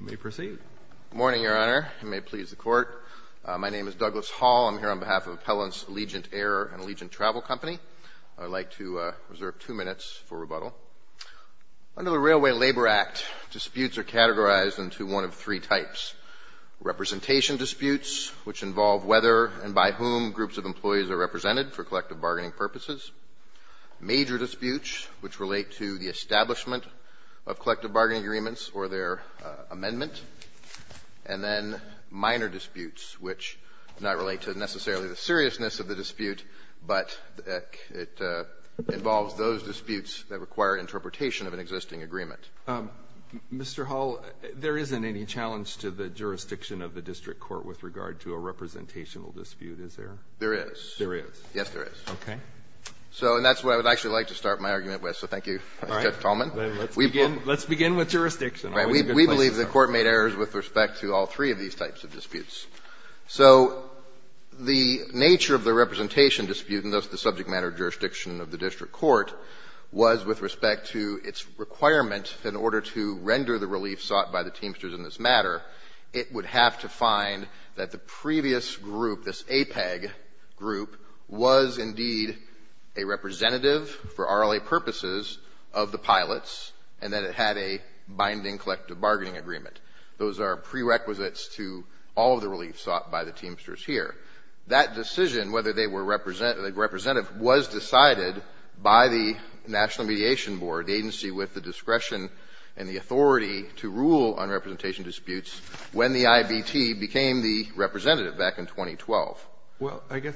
You may proceed. Good morning, Your Honor. You may please the court. My name is Douglas Hall. I'm here on behalf of Appellants Allegiant Air and Allegiant Travel Company. I'd like to reserve two minutes for rebuttal. Under the Railway Labor Act, disputes are categorized into one of three types. Representation disputes, which involve whether and by whom groups of employees are represented for collective bargaining purposes. Major disputes, which relate to the establishment of collective bargaining agreements or their amendment. And then minor disputes, which do not relate to necessarily the seriousness of the dispute, but it involves those disputes that require interpretation of an existing agreement. Mr. Hall, there isn't any challenge to the jurisdiction of the district court with regard to a representational dispute, is there? There is. There is. Yes, there is. Okay. So and that's what I would actually like to start my argument with. So thank you, Mr. Tolman. All right. Let's begin with jurisdiction. All right. We believe the Court made errors with respect to all three of these types of disputes. So the nature of the representation dispute, and thus the subject matter of jurisdiction of the district court, was with respect to its requirement in order to render the relief sought by the Teamsters in this matter, it would have to find that the previous group, this APEG group, was indeed a representative for RLA purposes of the pilots and that it had a binding collective bargaining agreement. Those are prerequisites to all of the relief sought by the Teamsters here. That decision whether they were representative was decided by the National Mediation Board, the agency with the discretion and the authority to rule on representation in 2012. Well, I guess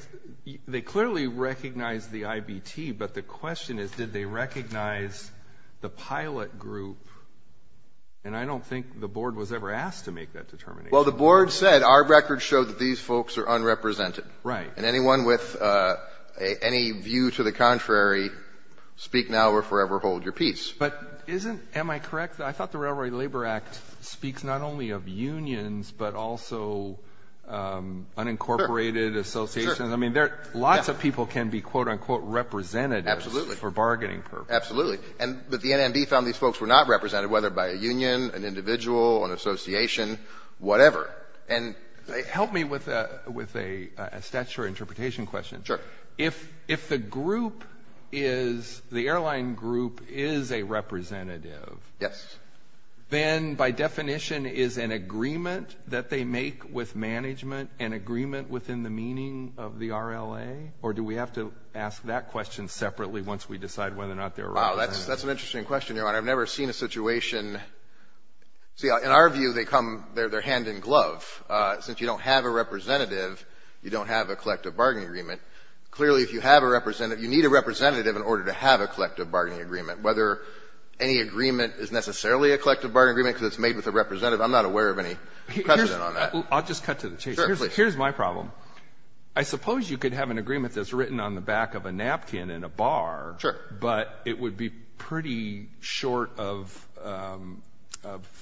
they clearly recognized the IBT, but the question is, did they recognize the pilot group? And I don't think the Board was ever asked to make that determination. Well, the Board said our records show that these folks are unrepresented. Right. And anyone with any view to the contrary, speak now or forever hold your peace. But isn't, am I correct, I thought the Railroad Labor Act speaks not only of unions, but also unincorporated associations. I mean, lots of people can be quote-unquote representatives for bargaining purposes. Absolutely. But the NMD found these folks were not represented, whether by a union, an individual, an association, whatever. Help me with a statutory interpretation question. Sure. If the group is, the airline group is a representative, then by definition is an agreement that they make with management an agreement within the meaning of the RLA? Or do we have to ask that question separately once we decide whether or not they're representative? Wow. That's an interesting question, Your Honor. I've never seen a situation. See, in our view, they come, they're hand in glove. Since you don't have a representative, you don't have a collective bargaining agreement. Clearly, if you have a representative, you need a representative in order to have a collective bargaining agreement. Whether any agreement is necessarily a collective bargaining agreement because it's made with a representative, I'm not aware of any precedent on that. I'll just cut to the chase. Sure, please. Here's my problem. I suppose you could have an agreement that's written on the back of a napkin in a bar. Sure. But it would be pretty short of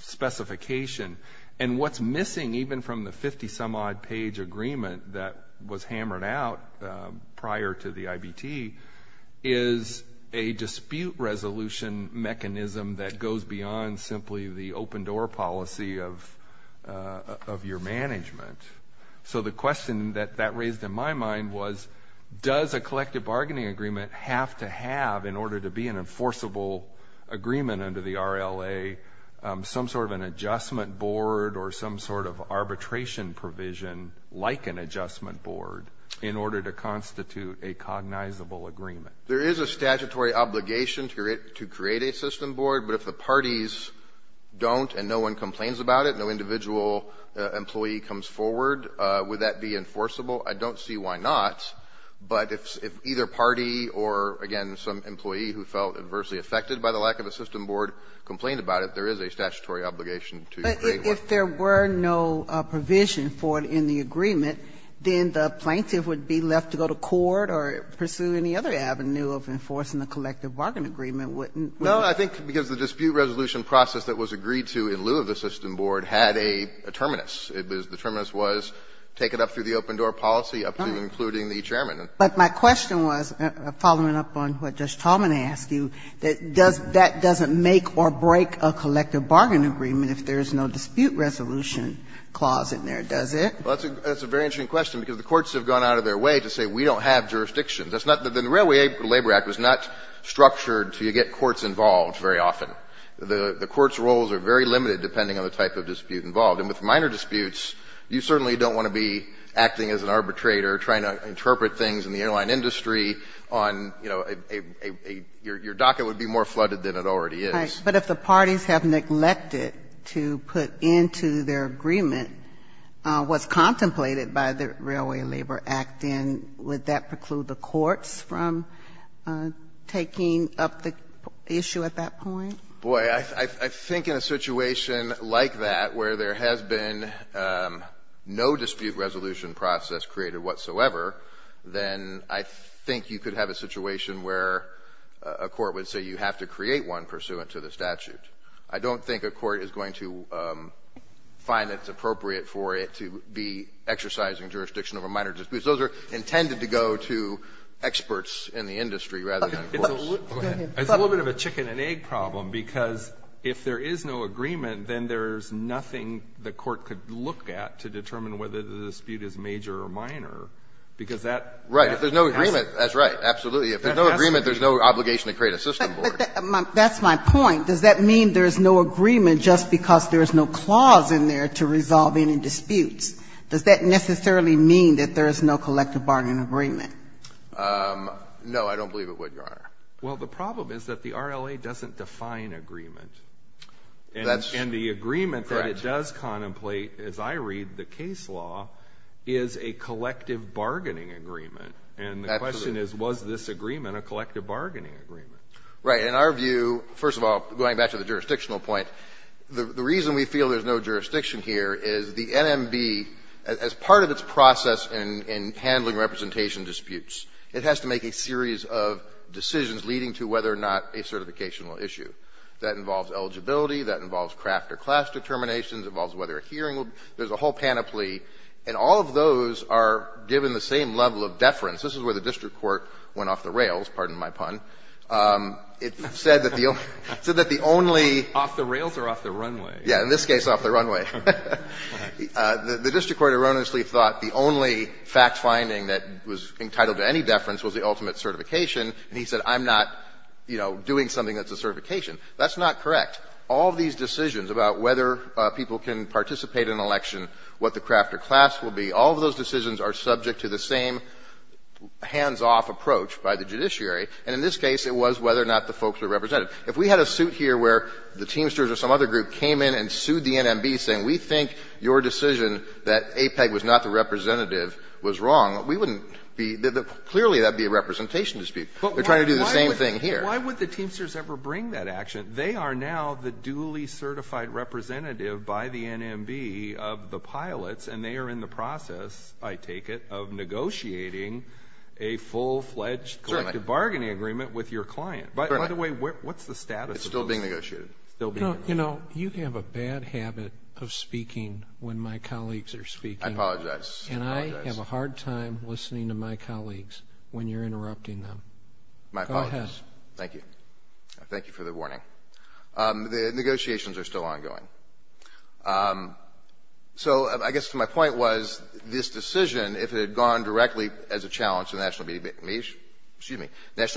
specification. And what's missing, even from the 50-some-odd-page agreement that was hammered out prior to the IBT, is a dispute resolution mechanism that goes beyond simply the open-door policy of your management. So the question that that raised in my mind was, does a collective bargaining agreement have to have, in order to be an enforceable agreement under the RLA, some sort of an adjustment board or some sort of arbitration provision like an adjustment board in order to constitute a cognizable agreement? There is a statutory obligation to create a system board. But if the parties don't and no one complains about it, no individual employee comes forward, would that be enforceable? I don't see why not. But if either party or, again, some employee who felt adversely affected by the lack of a system board complained about it, there is a statutory obligation to create one. But if there were no provision for it in the agreement, then the plaintiff would be left to go to court or pursue any other avenue of enforcing the collective bargaining agreement, wouldn't it? No, I think because the dispute resolution process that was agreed to in lieu of a system board had a terminus. The terminus was take it up through the open-door policy up to including the chairman. But my question was, following up on what Judge Tallman asked you, that that doesn't make or break a collective bargain agreement if there is no dispute resolution clause in there, does it? Well, that's a very interesting question, because the courts have gone out of their way to say we don't have jurisdiction. The Railway Labor Act was not structured to get courts involved very often. The courts' roles are very limited depending on the type of dispute involved. And with minor disputes, you certainly don't want to be acting as an arbitrator, trying to interpret things in the airline industry on, you know, a — your docket would be more flooded than it already is. But if the parties have neglected to put into their agreement what's contemplated by the Railway Labor Act, then would that preclude the courts from taking up the issue at that point? Boy, I think in a situation like that, where there has been no dispute resolution process created whatsoever, then I think you could have a situation where a court would say you have to create one pursuant to the statute. I don't think a court is going to find it's appropriate for it to be exercising jurisdiction over minor disputes. Those are intended to go to experts in the industry rather than courts. It's a little bit of a chicken-and-egg problem, because if there is no agreement, then there's nothing the court could look at to determine whether the dispute is major or minor, because that has to be the case. Right. If there's no agreement, that's right, absolutely. If there's no agreement, there's no obligation to create a system board. But that's my point. Does that mean there's no agreement just because there's no clause in there to resolve any disputes? Does that necessarily mean that there is no collective bargaining agreement? No, I don't believe it would, Your Honor. Well, the problem is that the RLA doesn't define agreement. And the agreement that it does contemplate, as I read the case law, is a collective bargaining agreement. And the question is, was this agreement a collective bargaining agreement? Right. In our view, first of all, going back to the jurisdictional point, the reason we feel there's no jurisdiction here is the NMB, as part of its process in handling representation disputes, it has to make a series of decisions leading to whether or not a certification will issue. That involves eligibility. That involves craft or class determinations. It involves whether a hearing will be. There's a whole panoply. And all of those are given the same level of deference. This is where the district court went off the rails, pardon my pun. It said that the only – it said that the only – Off the rails or off the runway? Yeah. In this case, off the runway. The district court erroneously thought the only fact-finding that was entitled to any deference was the ultimate certification. And he said, I'm not, you know, doing something that's a certification. That's not correct. All these decisions about whether people can participate in an election, what the craft or class will be, all of those decisions are subject to the same hands-off approach by the judiciary. And in this case, it was whether or not the folks were represented. If we had a suit here where the Teamsters or some other group came in and sued the NMB saying, we think your decision that APEG was not the representative was wrong, we wouldn't be – clearly, that would be a representation dispute. They're trying to do the same thing here. Why would the Teamsters ever bring that action? They are now the duly certified representative by the NMB of the pilots, and they are in the process, I take it, of negotiating a full-fledged collective bargaining agreement with your client. By the way, what's the status of those? It's still being negotiated. Still being negotiated. You know, you have a bad habit of speaking when my colleagues are speaking. I apologize. And I have a hard time listening to my colleagues when you're interrupting them. My apologies. Go ahead. Thank you. Thank you for the warning. The negotiations are still ongoing. So I guess my point was, this decision, if it had gone directly as a challenge to the National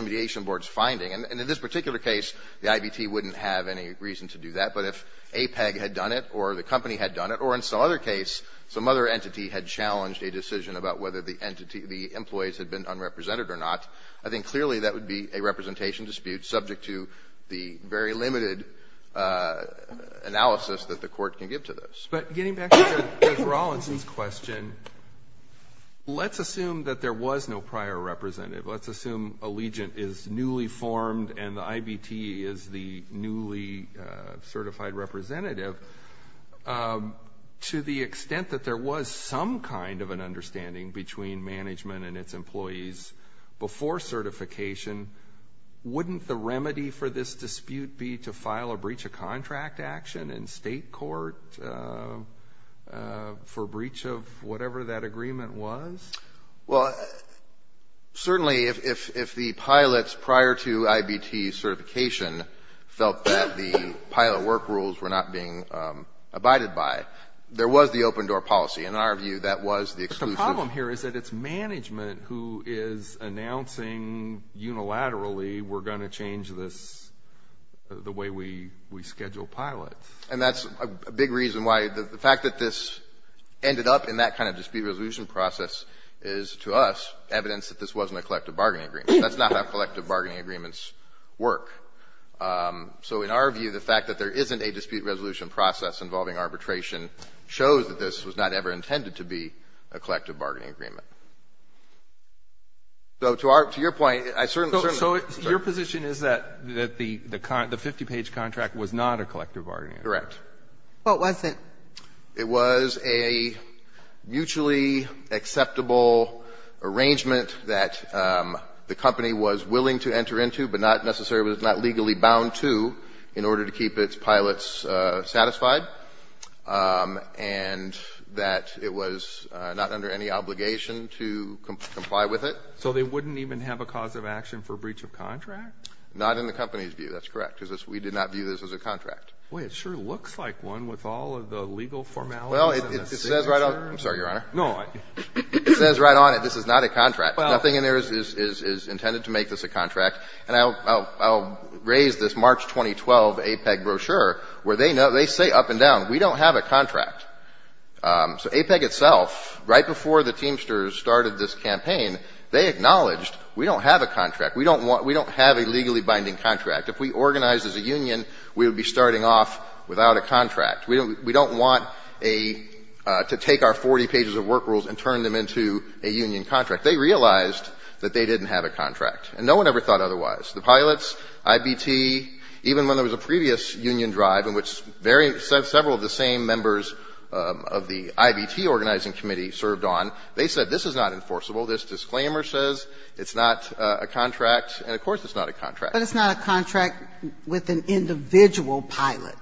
Mediation Board's finding, and in this particular case, the IBT wouldn't have any reason to do that. But if APEG had done it or the company had done it or in some other case, some other entity had challenged a decision about whether the employees had been unrepresented or not, I think clearly that would be a representation dispute subject to the very limited analysis that the court can give to this. But getting back to Judge Rawlinson's question, let's assume that there was no prior representative. Let's assume Allegiant is newly formed and the IBT is the newly certified representative. To the extent that there was some kind of an understanding between management and its employees before certification, wouldn't the remedy for this dispute be to file a breach of contract action in state court for breach of whatever that agreement was? Well, certainly if the pilots prior to IBT certification felt that the pilot work rules were not being abided by, there was the open door policy. In our view, that was the exclusive. The problem here is that it's management who is announcing unilaterally, we're going to change this the way we schedule pilots. And that's a big reason why the fact that this ended up in that kind of dispute resolution process is to us evidence that this wasn't a collective bargaining agreement. That's not how collective bargaining agreements work. So in our view, the fact that there isn't a dispute resolution process involving arbitration shows that this was not ever intended to be a collective bargaining agreement. So to our — to your point, I certainly — So your position is that the 50-page contract was not a collective bargaining agreement? Correct. What was it? It was a mutually acceptable arrangement that the company was willing to enter into but not necessarily was not legally bound to in order to keep its pilots satisfied. And that it was not under any obligation to comply with it. So they wouldn't even have a cause of action for breach of contract? Not in the company's view. That's correct. Because we did not view this as a contract. Boy, it sure looks like one with all of the legal formalities and the signature. Well, it says right on it. I'm sorry, Your Honor. No. It says right on it this is not a contract. Nothing in there is intended to make this a contract. And I'll raise this March 2012 APEC brochure where they say up and down, we don't have a contract. So APEC itself, right before the Teamsters started this campaign, they acknowledged we don't have a contract. We don't have a legally binding contract. If we organized as a union, we would be starting off without a contract. We don't want to take our 40 pages of work rules and turn them into a union contract. They realized that they didn't have a contract. And no one ever thought otherwise. The pilots, IBT, even when there was a previous union drive in which several of the same members of the IBT organizing committee served on, they said this is not enforceable. This disclaimer says it's not a contract. And, of course, it's not a contract. But it's not a contract with an individual pilot.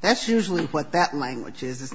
That's usually what that language is. It's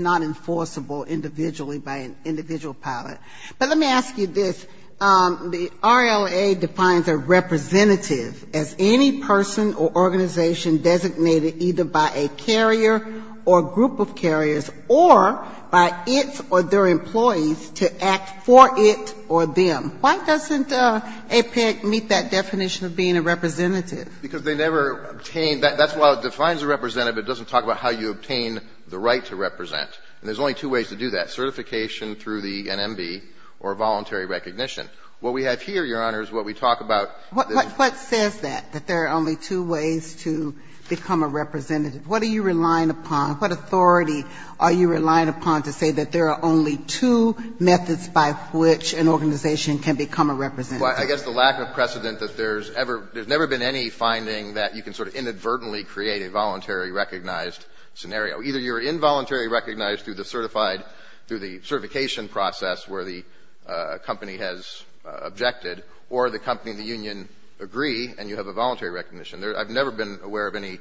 not enforceable individually by an individual pilot. But let me ask you this. The RLA defines a representative as any person or organization designated either by a carrier or group of carriers or by its or their employees to act for it or them. Why doesn't APEC meet that definition of being a representative? Because they never obtained that. That's why it defines a representative. It doesn't talk about how you obtain the right to represent. And there's only two ways to do that, certification through the NMB or voluntary recognition. What we have here, Your Honor, is what we talk about. What says that, that there are only two ways to become a representative? What are you relying upon? What authority are you relying upon to say that there are only two methods by which an organization can become a representative? Well, I guess the lack of precedent that there's ever been any finding that you can sort of inadvertently create a voluntary recognized scenario. Either you're involuntarily recognized through the certified, through the certification process where the company has objected, or the company and the union agree and you have a voluntary recognition. I've never been aware of any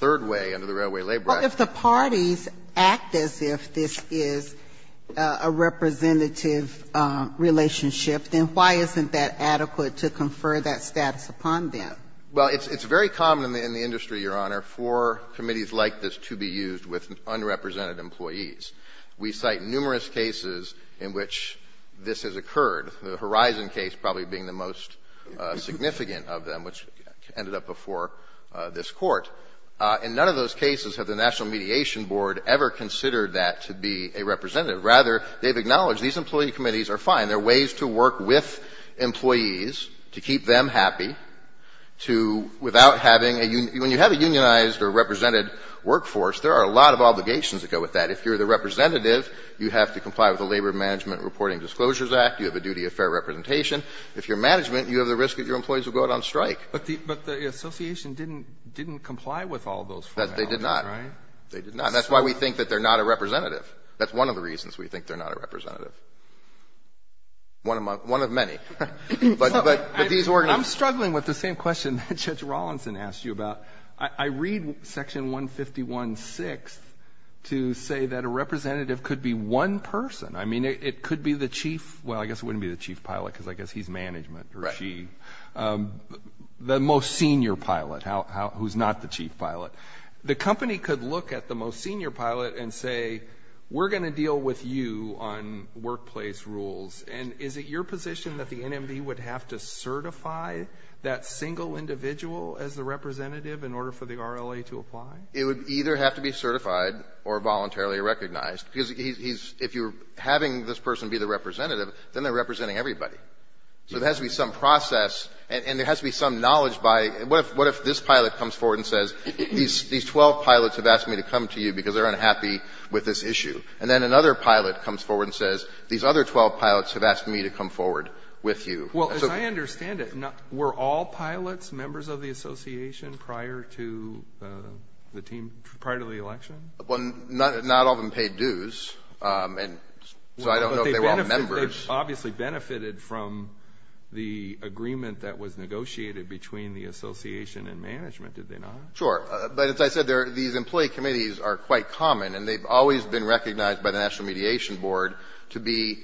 third way under the Railway Labor Act. Well, if the parties act as if this is a representative relationship, then why isn't that adequate to confer that status upon them? Well, it's very common in the industry, Your Honor, for committees like this to be used with unrepresented employees. We cite numerous cases in which this has occurred, the Horizon case probably being the most significant of them, which ended up before this Court. In none of those cases have the National Mediation Board ever considered that to be a representative. Rather, they've acknowledged these employee committees are fine. They're ways to work with employees, to keep them happy, to without having a union — when you have a unionized or represented workforce, there are a lot of obligations that go with that. If you're the representative, you have to comply with the Labor Management Reporting Disclosures Act. You have a duty of fair representation. If you're management, you have the risk that your employees will go out on strike. But the association didn't comply with all those formalities, right? They did not. They did not. And that's why we think that they're not a representative. That's one of the reasons we think they're not a representative. One of many. But these organizations — I'm struggling with the same question that Judge Rawlinson asked you about. I read Section 151-6 to say that a representative could be one person. I mean, it could be the chief — well, I guess it wouldn't be the chief pilot, because I guess he's management, or she — the most senior pilot, who's not the chief pilot. The company could look at the most senior pilot and say, we're going to deal with you on workplace rules. And is it your position that the NMD would have to certify that single individual as a representative in order for the RLA to apply? It would either have to be certified or voluntarily recognized. Because if you're having this person be the representative, then they're representing everybody. So there has to be some process, and there has to be some knowledge by — what if this pilot comes forward and says, these 12 pilots have asked me to come to you because they're unhappy with this issue? And then another pilot comes forward and says, these other 12 pilots have asked me to come forward with you. Well, as I understand it, were all pilots members of the association prior to the team — prior to the election? Well, not all of them paid dues, and so I don't know if they were all members. Well, but they obviously benefited from the agreement that was negotiated between the association and management, did they not? Sure. But as I said, these employee committees are quite common, and they've always been recognized by the National Mediation Board to be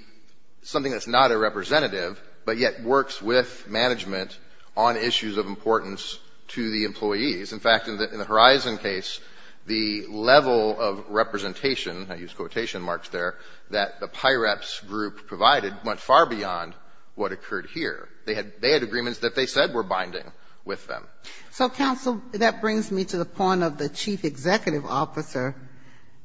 something that's not a representative, but yet works with management on issues of importance to the employees. In fact, in the Horizon case, the level of representation — I use quotation marks there — that the PIREPS group provided went far beyond what occurred here. They had agreements that they said were binding with them. So, counsel, that brings me to the point of the chief executive officer,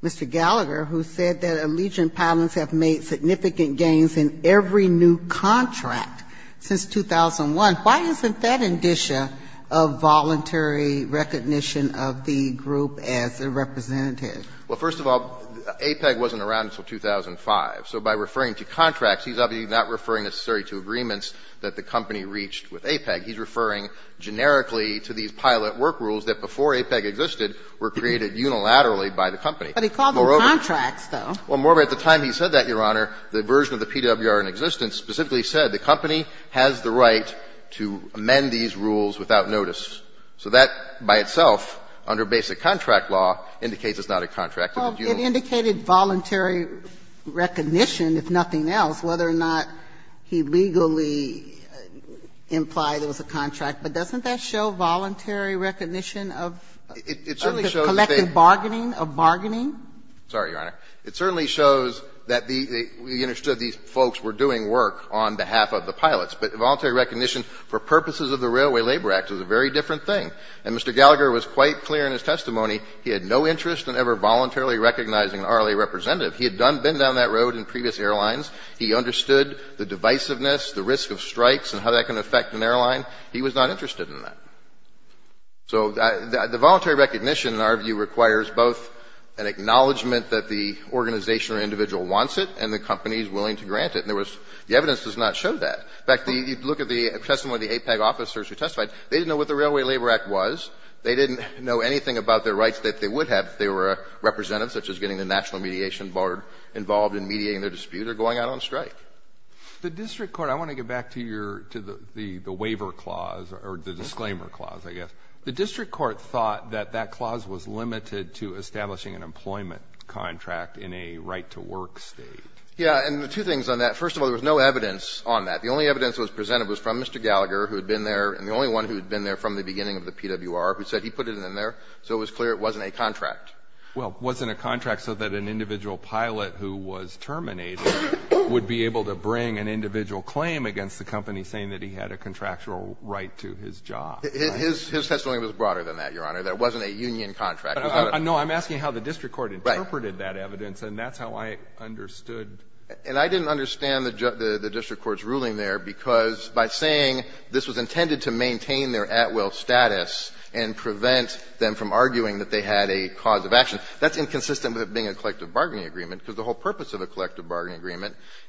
Mr. Gallagher, who said that Allegiant Pilots have made significant gains in every new contract since 2001. Why isn't that indicia of voluntary recognition of the group as a representative? Well, first of all, APEG wasn't around until 2005. So by referring to contracts, he's obviously not referring necessarily to agreements that the company reached with APEG. He's referring generically to these pilot work rules that before APEG existed were created unilaterally by the company. But he called them contracts, though. Well, moreover, at the time he said that, Your Honor, the version of the PWR in existence specifically said the company has the right to amend these rules without notice. So that by itself, under basic contract law, indicates it's not a contract. Well, it indicated voluntary recognition, if nothing else, whether or not he legally implied it was a contract. But doesn't that show voluntary recognition of the collective bargaining, of bargaining? Sorry, Your Honor. It certainly shows that we understood these folks were doing work on behalf of the pilots, but voluntary recognition for purposes of the Railway Labor Act is a very different thing. And Mr. Gallagher was quite clear in his testimony he had no interest in ever voluntarily recognizing an RLA representative. He had been down that road in previous airlines. He understood the divisiveness, the risk of strikes, and how that can affect an airline. He was not interested in that. So the voluntary recognition, in our view, requires both an acknowledgment that the organization or individual wants it and the company is willing to grant it. And there was the evidence does not show that. In fact, you look at the testimony of the AIPAC officers who testified. They didn't know what the Railway Labor Act was. They didn't know anything about their rights that they would have if they were a representative, such as getting the National Mediation Board involved in mediating their dispute or going out on strike. The district court, I want to get back to the waiver clause or the disclaimer clause, I guess. The district court thought that that clause was limited to establishing an employment contract in a right-to-work state. Yeah. And two things on that. First of all, there was no evidence on that. The only evidence that was presented was from Mr. Gallagher, who had been there, and the only one who had been there from the beginning of the PWR, who said he put it in there. So it was clear it wasn't a contract. Well, it wasn't a contract so that an individual pilot who was terminated would be able to bring an individual claim against the company saying that he had a contractual right to his job. His testimony was broader than that, Your Honor. There wasn't a union contract. No, I'm asking how the district court interpreted that evidence. Right. And that's how I understood. And I didn't understand the district court's ruling there, because by saying this was intended to maintain their at-will status and prevent them from arguing that they had a cause of action, that's inconsistent with it being a collective bargaining agreement,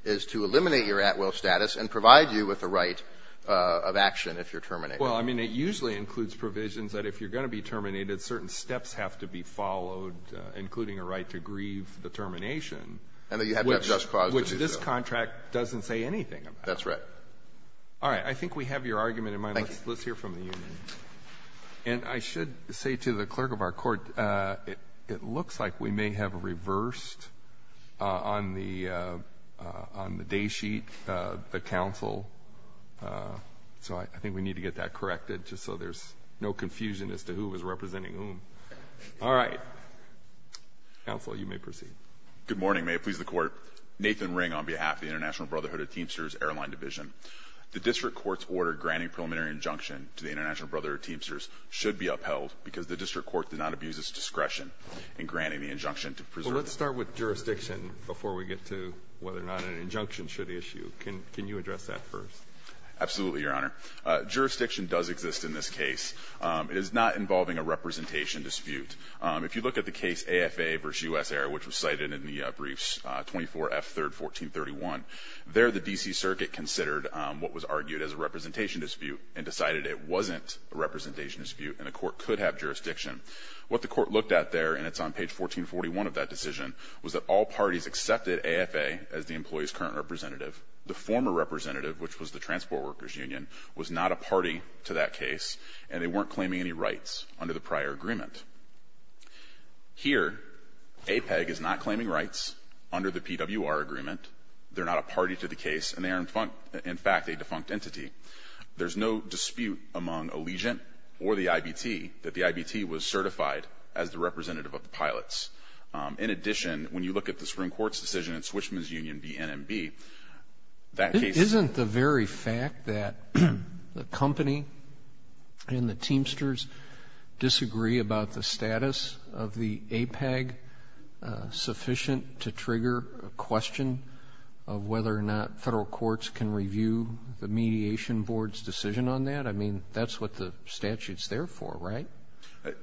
is to eliminate your at-will status and provide you with a right of action if you're terminated. Well, I mean, it usually includes provisions that if you're going to be terminated, certain steps have to be followed, including a right to grieve the termination. And that you have to have just cause to do so. Which this contract doesn't say anything about. That's right. All right. I think we have your argument in mind. Thank you. Let's hear from the union. And I should say to the clerk of our court, it looks like we may have reversed on the day sheet, the counsel. So I think we need to get that corrected, just so there's no confusion as to who was representing whom. All right. Counsel, you may proceed. Good morning. May it please the Court. Nathan Ring on behalf of the International Brotherhood of Teamsters Airline Division. The district court's order granting preliminary injunction to the International Brotherhood of Teamsters should be upheld because the district court did not abuse its discretion in granting the injunction to preserve So let's start with jurisdiction before we get to whether or not an injunction should issue. Can you address that first? Absolutely, Your Honor. Jurisdiction does exist in this case. It is not involving a representation dispute. If you look at the case AFA v. U.S. Air, which was cited in the briefs 24F, 3rd, 1431, there the D.C. Circuit considered what was argued as a representation dispute and decided it wasn't a representation dispute and the court could have jurisdiction. What the court looked at there, and it's on page 1441 of that decision, was that all parties accepted AFA as the employee's current representative. The former representative, which was the Transport Workers Union, was not a party to that case and they weren't claiming any rights under the prior agreement. Here, APEG is not claiming rights under the PWR agreement. They're not a party to the case and they are, in fact, a defunct entity. There's no dispute among Allegiant or the IBT that the IBT was certified as the representative of the pilots. In addition, when you look at the Supreme Court's decision in Swishman's Union v. NMB, that case isn't the very fact that the company and the Teamsters disagree about the status of the APEG sufficient to trigger a question of whether or not Is that the Constitution Board's decision on that? I mean, that's what the statute's there for, right?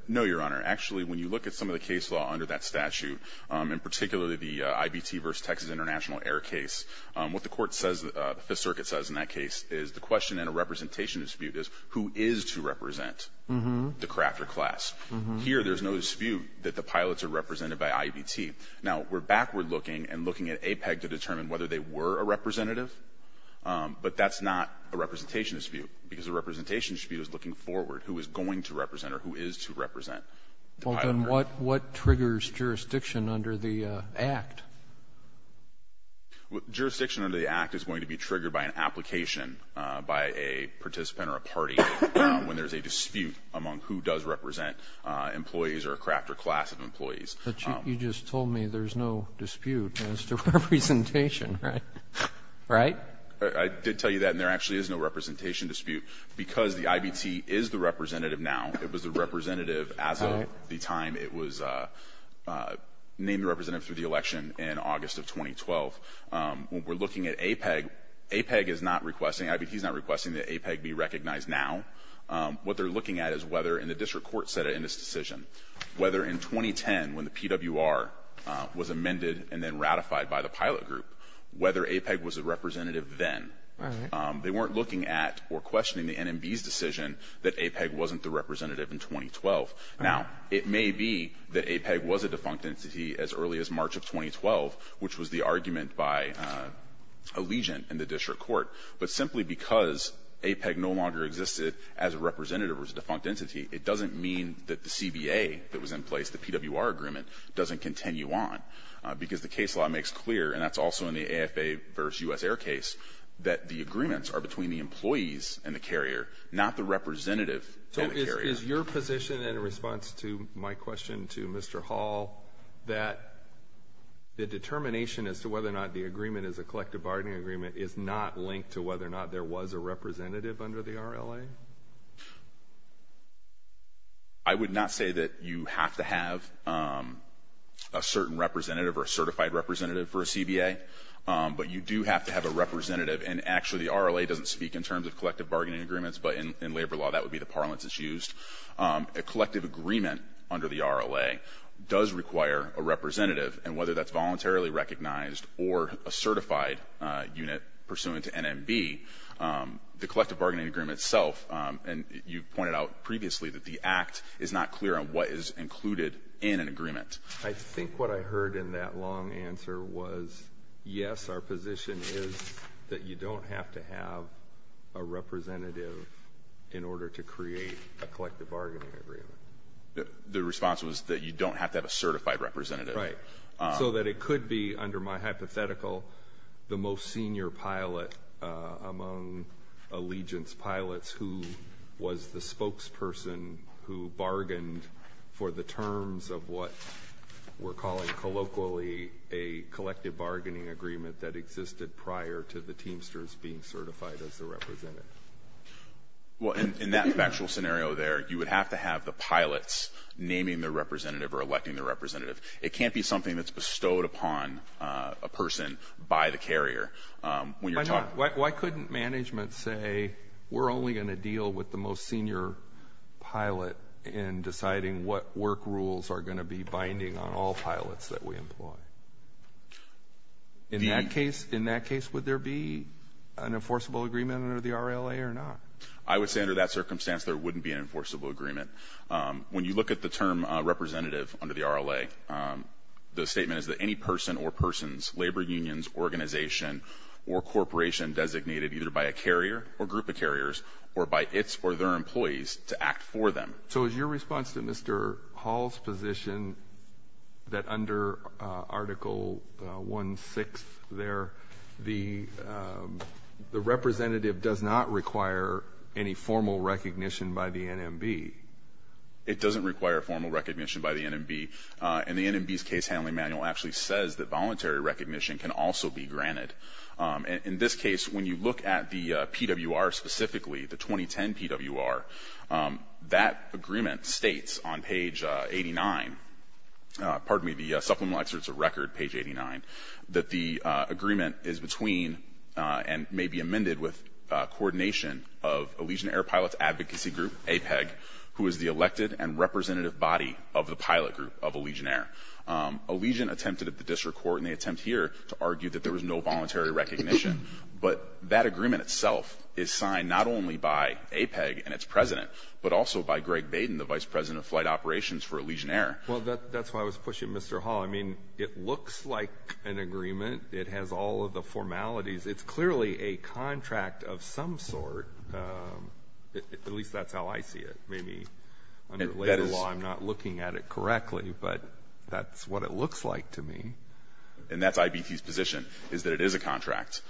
No, Your Honor. Actually, when you look at some of the case law under that statute, and particularly the IBT v. Texas International Air case, what the court says, the Fifth Circuit says in that case, is the question in a representation dispute is who is to represent the crafter class. Here, there's no dispute that the pilots are represented by IBT. Now, we're backward looking and looking at APEG to determine whether they were a representation dispute, because a representation dispute is looking forward who is going to represent or who is to represent the pilot. Well, then what triggers jurisdiction under the Act? Jurisdiction under the Act is going to be triggered by an application by a participant or a party when there's a dispute among who does represent employees or a crafter class of employees. But you just told me there's no dispute as to representation, right? Right? I did tell you that, and there actually is no representation dispute. Because the IBT is the representative now, it was the representative as of the time it was named representative through the election in August of 2012. When we're looking at APEG, APEG is not requesting, IBT is not requesting that APEG be recognized now. What they're looking at is whether, and the district court said it in this decision, whether in 2010, when the PWR was amended and then ratified by the They weren't looking at or questioning the NMB's decision that APEG wasn't the representative in 2012. Now, it may be that APEG was a defunct entity as early as March of 2012, which was the argument by a legion in the district court. But simply because APEG no longer existed as a representative or as a defunct entity, it doesn't mean that the CBA that was in place, the PWR agreement, doesn't continue on. Because the case law makes clear, and that's also in the AFA versus U.S. Air case, that the agreements are between the employees and the carrier, not the representative and the carrier. So is your position in response to my question to Mr. Hall that the determination as to whether or not the agreement is a collective bargaining agreement is not linked to whether or not there was a representative under the RLA? I would not say that you have to have a certain representative or a certified representative for a CBA. But you do have to have a representative. And actually, the RLA doesn't speak in terms of collective bargaining agreements, but in labor law, that would be the parlance that's used. A collective agreement under the RLA does require a representative. And whether that's voluntarily recognized or a certified unit pursuant to NMB, the collective bargaining agreement itself, and you pointed out previously that the act is not clear on what is included in an agreement. I think what I heard in that long answer was, yes, our position is that you don't have to have a representative in order to create a collective bargaining agreement. The response was that you don't have to have a certified representative. Right. So that it could be, under my hypothetical, the most senior pilot among allegiance pilots who was the spokesperson who bargained for the terms of what we're calling colloquially a collective bargaining agreement that existed prior to the Teamsters being certified as the representative. Well, in that factual scenario there, you would have to have the pilots naming the representative or electing the representative. It can't be something that's bestowed upon a person by the carrier. Why couldn't management say we're only going to deal with the most senior pilot in deciding what work rules are going to be binding on all pilots that we employ? In that case, would there be an enforceable agreement under the RLA or not? I would say under that circumstance there wouldn't be an enforceable agreement. When you look at the term representative under the RLA, the statement is that any person or persons, labor unions, organization, or corporation designated either by a carrier or group of carriers or by its or their employees to act for them. So is your response to Mr. Hall's position that under Article 1-6 there, the representative does not require any formal recognition by the NMB? It doesn't require formal recognition by the NMB. And the NMB's case handling manual actually says that voluntary recognition can also be granted. In this case, when you look at the PWR specifically, the 2010 PWR, that agreement states on page 89, pardon me, the Supplemental Excerpts of Record page 89, that the agreement is between and may be amended with coordination of Allegiant Air Pilots Advocacy Group, APEG, who is the elected and representative body of the pilot group of Allegiant Air. Allegiant attempted at the district court, and they attempt here to argue that there was no voluntary recognition. But that agreement itself is signed not only by APEG and its president, but also by Greg Baden, the vice president of flight operations for Allegiant Air. Well, that's why I was pushing Mr. Hall. I mean, it looks like an agreement. It has all of the formalities. It's clearly a contract of some sort. At least that's how I see it. Maybe under later law I'm not looking at it correctly, but that's what it looks like to me. And that's IBT's position, is that it is a contract.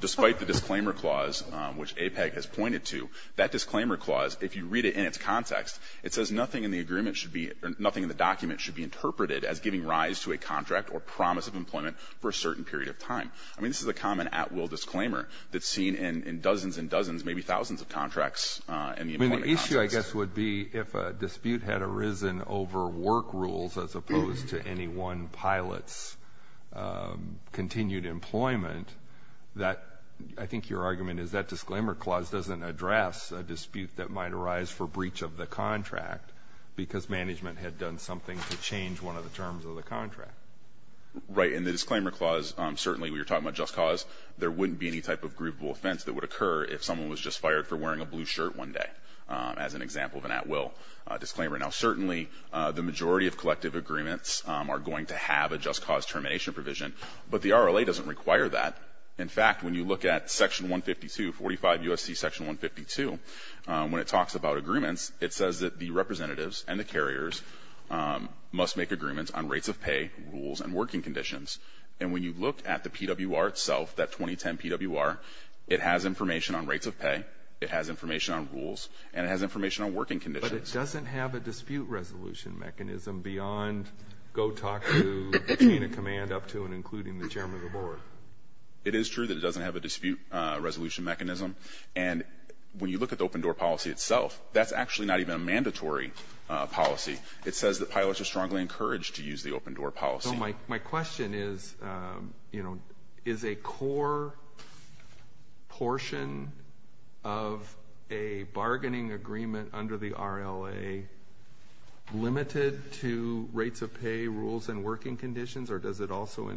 Despite the disclaimer clause, which APEG has pointed to, that disclaimer clause, if you read it in its context, it says nothing in the agreement should be, nothing in the document should be interpreted as giving rise to a contract or promise of employment for a certain period of time. I mean, this is a common at-will disclaimer that's seen in dozens and dozens, maybe thousands of contracts. I mean, the issue, I guess, would be if a dispute had arisen over work rules as opposed to any one pilot's continued employment, that I think your argument is that disclaimer clause doesn't address a dispute that might arise for breach of the contract because management had done something to change one of the terms of the contract. Right. And the disclaimer clause, certainly, when you're talking about just cause, there wouldn't be any type of grievable offense that would occur if someone was just fired for wearing a blue shirt one day, as an example of an at-will disclaimer. Now, certainly the majority of collective agreements are going to have a just cause termination provision, but the RLA doesn't require that. In fact, when you look at Section 152, 45 U.S.C. Section 152, when it talks about agreements, it says that the representatives and the carriers must make agreements on rates of pay, rules, and working conditions. And when you look at the PWR itself, that 2010 PWR, it has information on rates of pay, it has information on rules, and it has information on working conditions. But it doesn't have a dispute resolution mechanism beyond go talk to the chain of command up to and including the chairman of the board. It is true that it doesn't have a dispute resolution mechanism. And when you look at the open door policy itself, that's actually not even a mandatory policy. It says that pilots are strongly encouraged to use the open door policy. So my question is, you know, is a core portion of a bargaining agreement under the RLA limited to rates of pay, rules, and working conditions, or does it also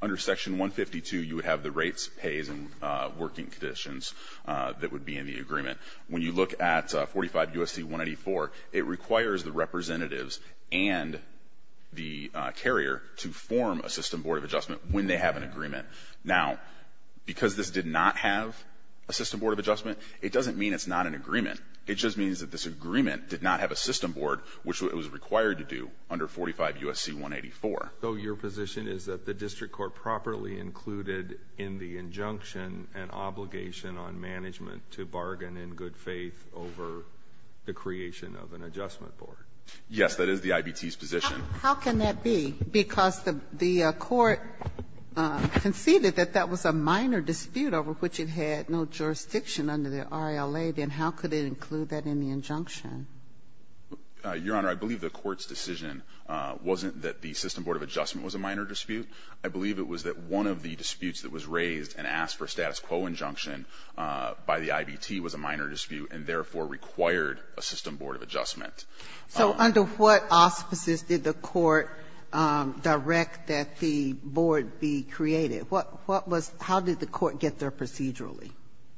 Under Section 152, you would have the rates, pays, and working conditions that would be in the agreement. When you look at 45 U.S.C. 184, it requires the representatives and the carrier to form a system board of adjustment when they have an agreement. Now, because this did not have a system board of adjustment, it doesn't mean it's not an agreement. It just means that this agreement did not have a system board, which it was required to do under 45 U.S.C. 184. So your position is that the district court properly included in the injunction an obligation on management to bargain in good faith over the creation of an adjustment board? Yes, that is the IBT's position. How can that be? Because the court conceded that that was a minor dispute over which it had no Your Honor, I believe the court's decision wasn't that the system board of adjustment was a minor dispute. I believe it was that one of the disputes that was raised and asked for a status quo injunction by the IBT was a minor dispute and therefore required a system board of adjustment. So under what auspices did the court direct that the board be created? What was How did the court get there procedurally?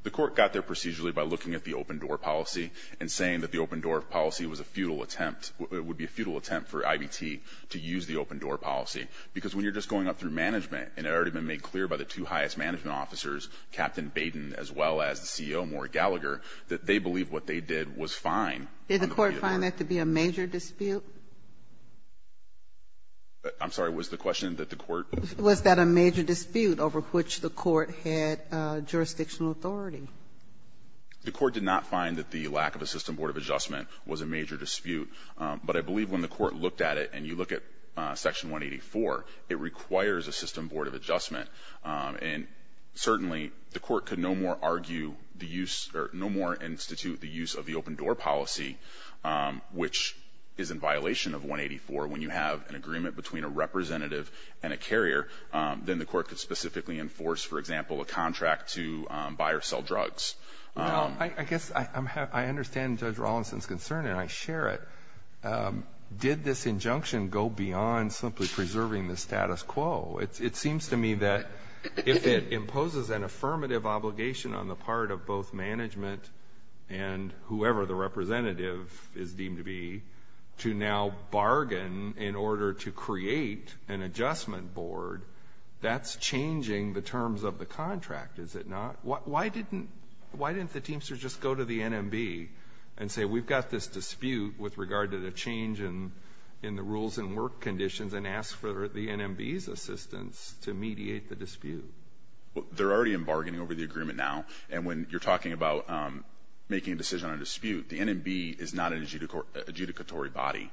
The court got there procedurally by looking at the open door policy and saying that the open door policy was a futile attempt. It would be a futile attempt for IBT to use the open door policy because when you're just going up through management and it had already been made clear by the two highest management officers, Captain Baden as well as the CEO, Maury Gallagher, that they believe what they did was fine. Did the court find that to be a major dispute? I'm sorry, was the question that the court Was that a major dispute over which the court had jurisdictional authority? The court did not find that the lack of a system board of adjustment was a major dispute. But I believe when the court looked at it and you look at Section 184, it requires a system board of adjustment. And certainly the court could no more argue the use or no more institute the use of the open door policy, which is in violation of 184. When you have an agreement between a representative and a carrier, then the court could specifically enforce, for example, a contract to buy or sell drugs. I guess I understand Judge Rawlinson's concern and I share it. Did this injunction go beyond simply preserving the status quo? It seems to me that if it imposes an affirmative obligation on the part of both management and whoever the representative is deemed to be to now bargain in order to create an adjustment board, that's changing the terms of the contract, is it not? Why didn't the teamsters just go to the NMB and say we've got this dispute with regard to the change in the rules and work conditions and ask for the NMB's assistance to mediate the dispute? They're already in bargaining over the agreement now. And when you're talking about making a decision on a dispute, the NMB is not an adjudicatory body.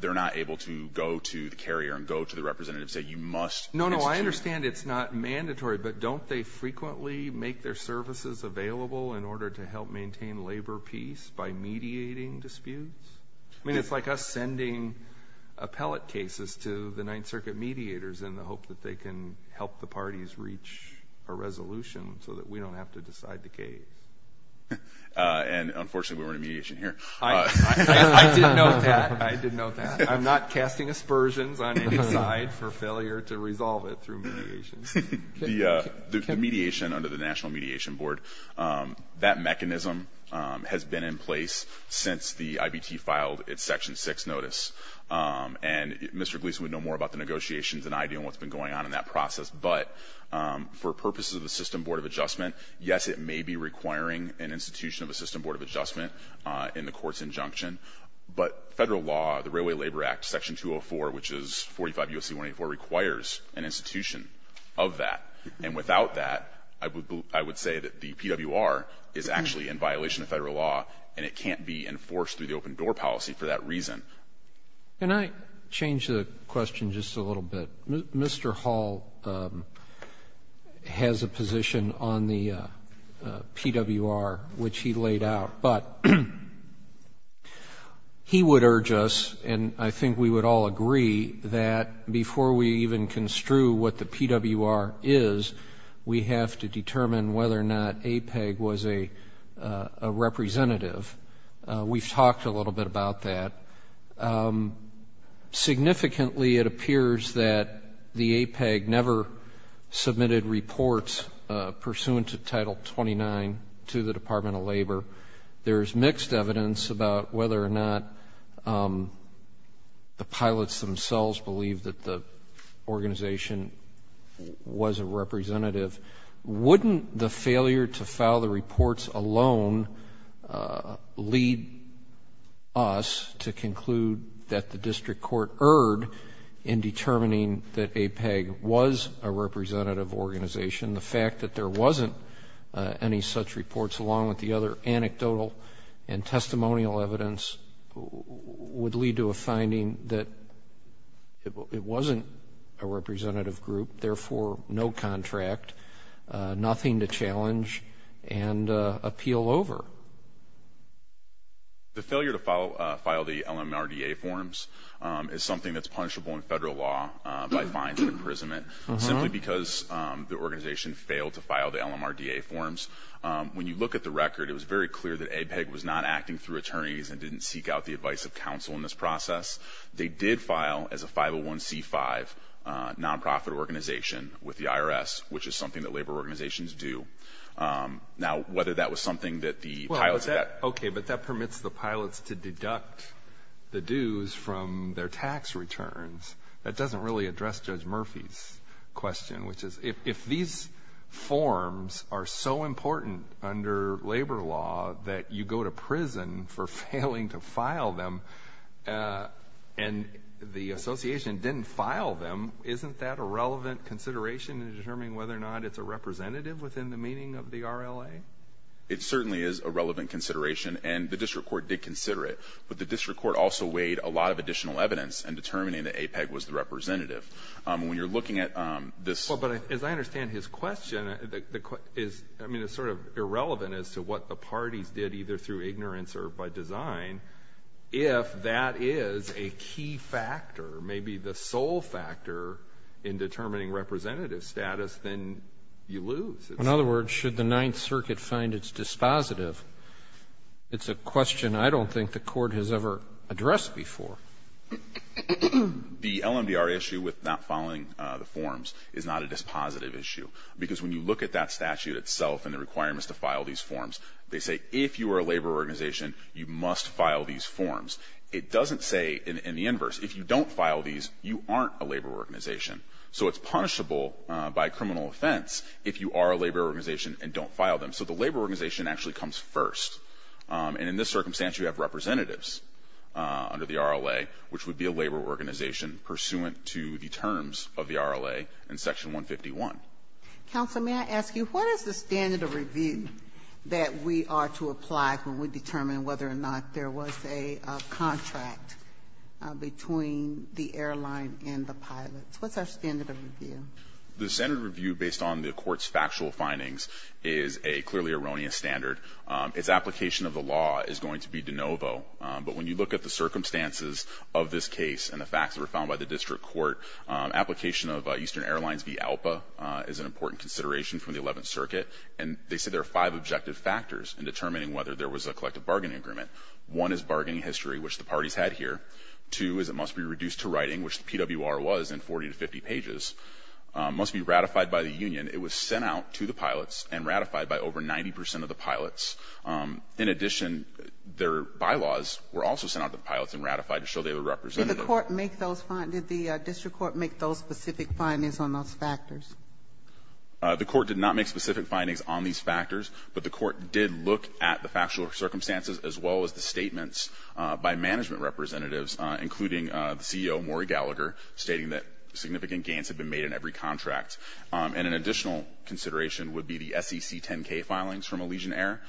They're not able to go to the carrier and go to the representative and say you must institute. No, no, I understand it's not mandatory, but don't they frequently make their services available in order to help maintain labor peace by mediating disputes? I mean it's like us sending appellate cases to the Ninth Circuit mediators in the hope that they can help the parties reach a resolution so that we don't have to decide the case. And, unfortunately, we were in a mediation here. I did note that. I did note that. I'm not casting aspersions on any side for failure to resolve it through mediation. The mediation under the National Mediation Board, that mechanism has been in place since the IBT filed its Section 6 notice. And Mr. Gleason would know more about the negotiations than I do and what's been going on in that process. But for purposes of the System Board of Adjustment, yes it may be requiring an institution of the System Board of Adjustment in the court's injunction. But Federal law, the Railway Labor Act, Section 204, which is 45 U.S.C. 184, requires an institution of that. And without that, I would say that the PWR is actually in violation of Federal law and it can't be enforced through the open door policy for that reason. Can I change the question just a little bit? Mr. Hall has a position on the PWR, which he laid out. But he would urge us, and I think we would all agree, that before we even construe what the PWR is, we have to determine whether or not APEG was a representative. We've talked a little bit about that. Significantly, it appears that the APEG never submitted reports pursuant to the Department of Labor. There is mixed evidence about whether or not the pilots themselves believe that the organization was a representative. Wouldn't the failure to file the reports alone lead us to conclude that the district court erred in determining that APEG was a representative organization? The fact that there wasn't any such reports, along with the other anecdotal and testimonial evidence, would lead to a finding that it wasn't a representative group, therefore no contract, nothing to challenge and appeal over. The failure to file the LMRDA forms is something that's punishable in Federal law by fine and imprisonment, simply because the organization failed to file the LMRDA forms. When you look at the record, it was very clear that APEG was not acting through attorneys and didn't seek out the advice of counsel in this process. They did file as a 501c5 nonprofit organization with the IRS, which is something that labor organizations do. Now, whether that was something that the pilots did. Okay, but that permits the pilots to deduct the dues from their tax returns. That doesn't really address Judge Murphy's question, which is if these forms are so important under labor law that you go to prison for failing to file them and the association didn't file them, isn't that a relevant consideration in determining whether or not it's a representative within the meaning of the RLA? It certainly is a relevant consideration, and the district court did consider it, but the district court also weighed a lot of additional evidence in determining whether or not APEG was the representative. When you're looking at this. Well, but as I understand his question, I mean it's sort of irrelevant as to what the parties did, either through ignorance or by design. If that is a key factor, maybe the sole factor in determining representative status, then you lose. In other words, should the Ninth Circuit find its dispositive? It's a question I don't think the court has ever addressed before. The LMDR issue with not filing the forms is not a dispositive issue, because when you look at that statute itself and the requirements to file these forms, they say if you are a labor organization, you must file these forms. It doesn't say in the inverse. If you don't file these, you aren't a labor organization. So it's punishable by criminal offense if you are a labor organization and don't file them. So the labor organization actually comes first. And in this circumstance, you have representatives under the RLA, which would be a labor organization pursuant to the terms of the RLA in Section 151. Counsel, may I ask you, what is the standard of review that we are to apply when we determine whether or not there was a contract between the airline and the pilots? What's our standard of review? The standard of review based on the court's factual findings is a clearly erroneous standard. Its application of the law is going to be de novo. But when you look at the circumstances of this case and the facts that were found by the district court, application of Eastern Airlines v. ALPA is an important consideration from the 11th Circuit. And they said there are five objective factors in determining whether there was a collective bargaining agreement. One is bargaining history, which the parties had here. Two is it must be reduced to writing, which the PWR was in 40 to 50 pages. It must be ratified by the union. It was sent out to the pilots and ratified by over 90 percent of the pilots. In addition, their bylaws were also sent out to the pilots and ratified to show they were representative. Did the court make those findings? Did the district court make those specific findings on those factors? The court did not make specific findings on these factors, but the court did look at the factual circumstances as well as the statements by management representatives, including the CEO, Maury Gallagher, stating that significant gains had been made in every contract. And an additional consideration would be the SEC 10-K filings from Allegiant Air.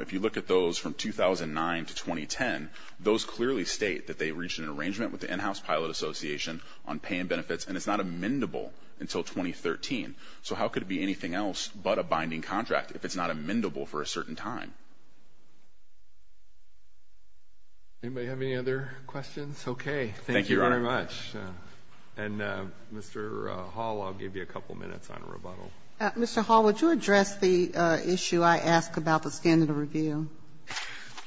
If you look at those from 2009 to 2010, those clearly state that they reached an arrangement with the in-house pilot association on pay and benefits, and it's not amendable until 2013. So how could it be anything else but a binding contract if it's not amendable for a certain time? Anybody have any other questions? Okay. Thank you very much. And, Mr. Hall, I'll give you a couple minutes on rebuttal. Mr. Hall, would you address the issue I asked about the standard of review?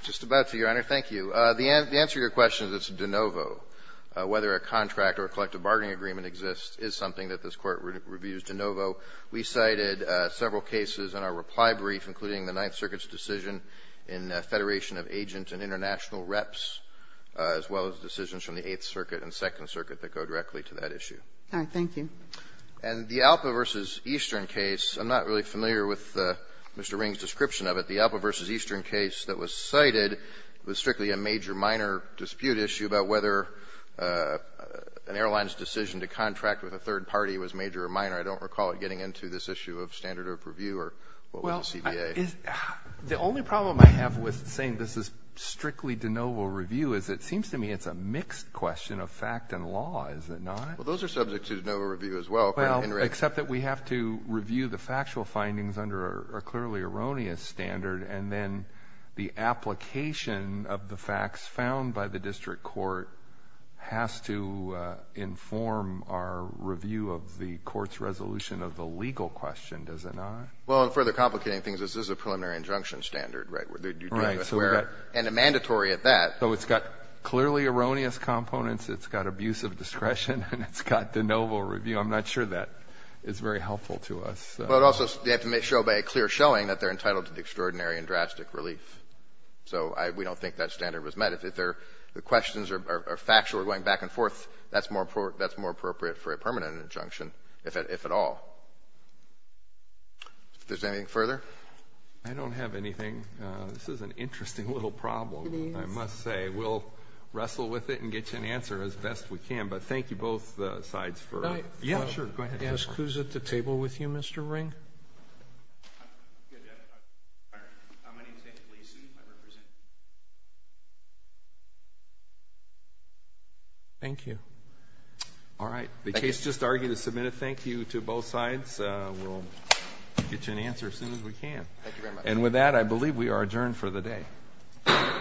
Just about to, Your Honor. Thank you. The answer to your question is it's de novo. Whether a contract or a collective bargaining agreement exists is something that this Court reviews de novo. We cited several cases in our reply brief, including the Ninth Circuit's decision in Federation of Agent and International Reps, as well as decisions from the Eighth Circuit and Second Circuit that go directly to that issue. All right. Thank you. And the Alpa v. Eastern case, I'm not really familiar with Mr. Ring's description of it. The Alpa v. Eastern case that was cited was strictly a major-minor dispute issue about whether an airline's decision to contract with a third party was major or minor. I don't recall it getting into this issue of standard of review or what was the CBA. Well, the only problem I have with saying this is strictly de novo review is it seems to me it's a mixed question of fact and law, is it not? Well, those are subject to de novo review as well. Well, except that we have to review the factual findings under a clearly erroneous standard, and then the application of the facts found by the district court has to inform our review of the court's resolution of the legal question, does it not? Well, and further complicating things, this is a preliminary injunction standard, right? And a mandatory at that. So it's got clearly erroneous components. It's got abusive discretion. And it's got de novo review. I'm not sure that is very helpful to us. But also they have to make sure by a clear showing that they're entitled to the extraordinary and drastic relief. So we don't think that standard was met. If the questions are factual or going back and forth, that's more appropriate for a permanent injunction, if at all. If there's anything further? I don't have anything. This is an interesting little problem. I must say. We'll wrestle with it and get you an answer as best we can. But thank you, both sides. Who's at the table with you, Mr. Ring? Thank you. All right. The case just argued is submitted. Thank you to both sides. We'll get you an answer as soon as we can. And with that, I believe we are adjourned for the day. Thank you. Thank you.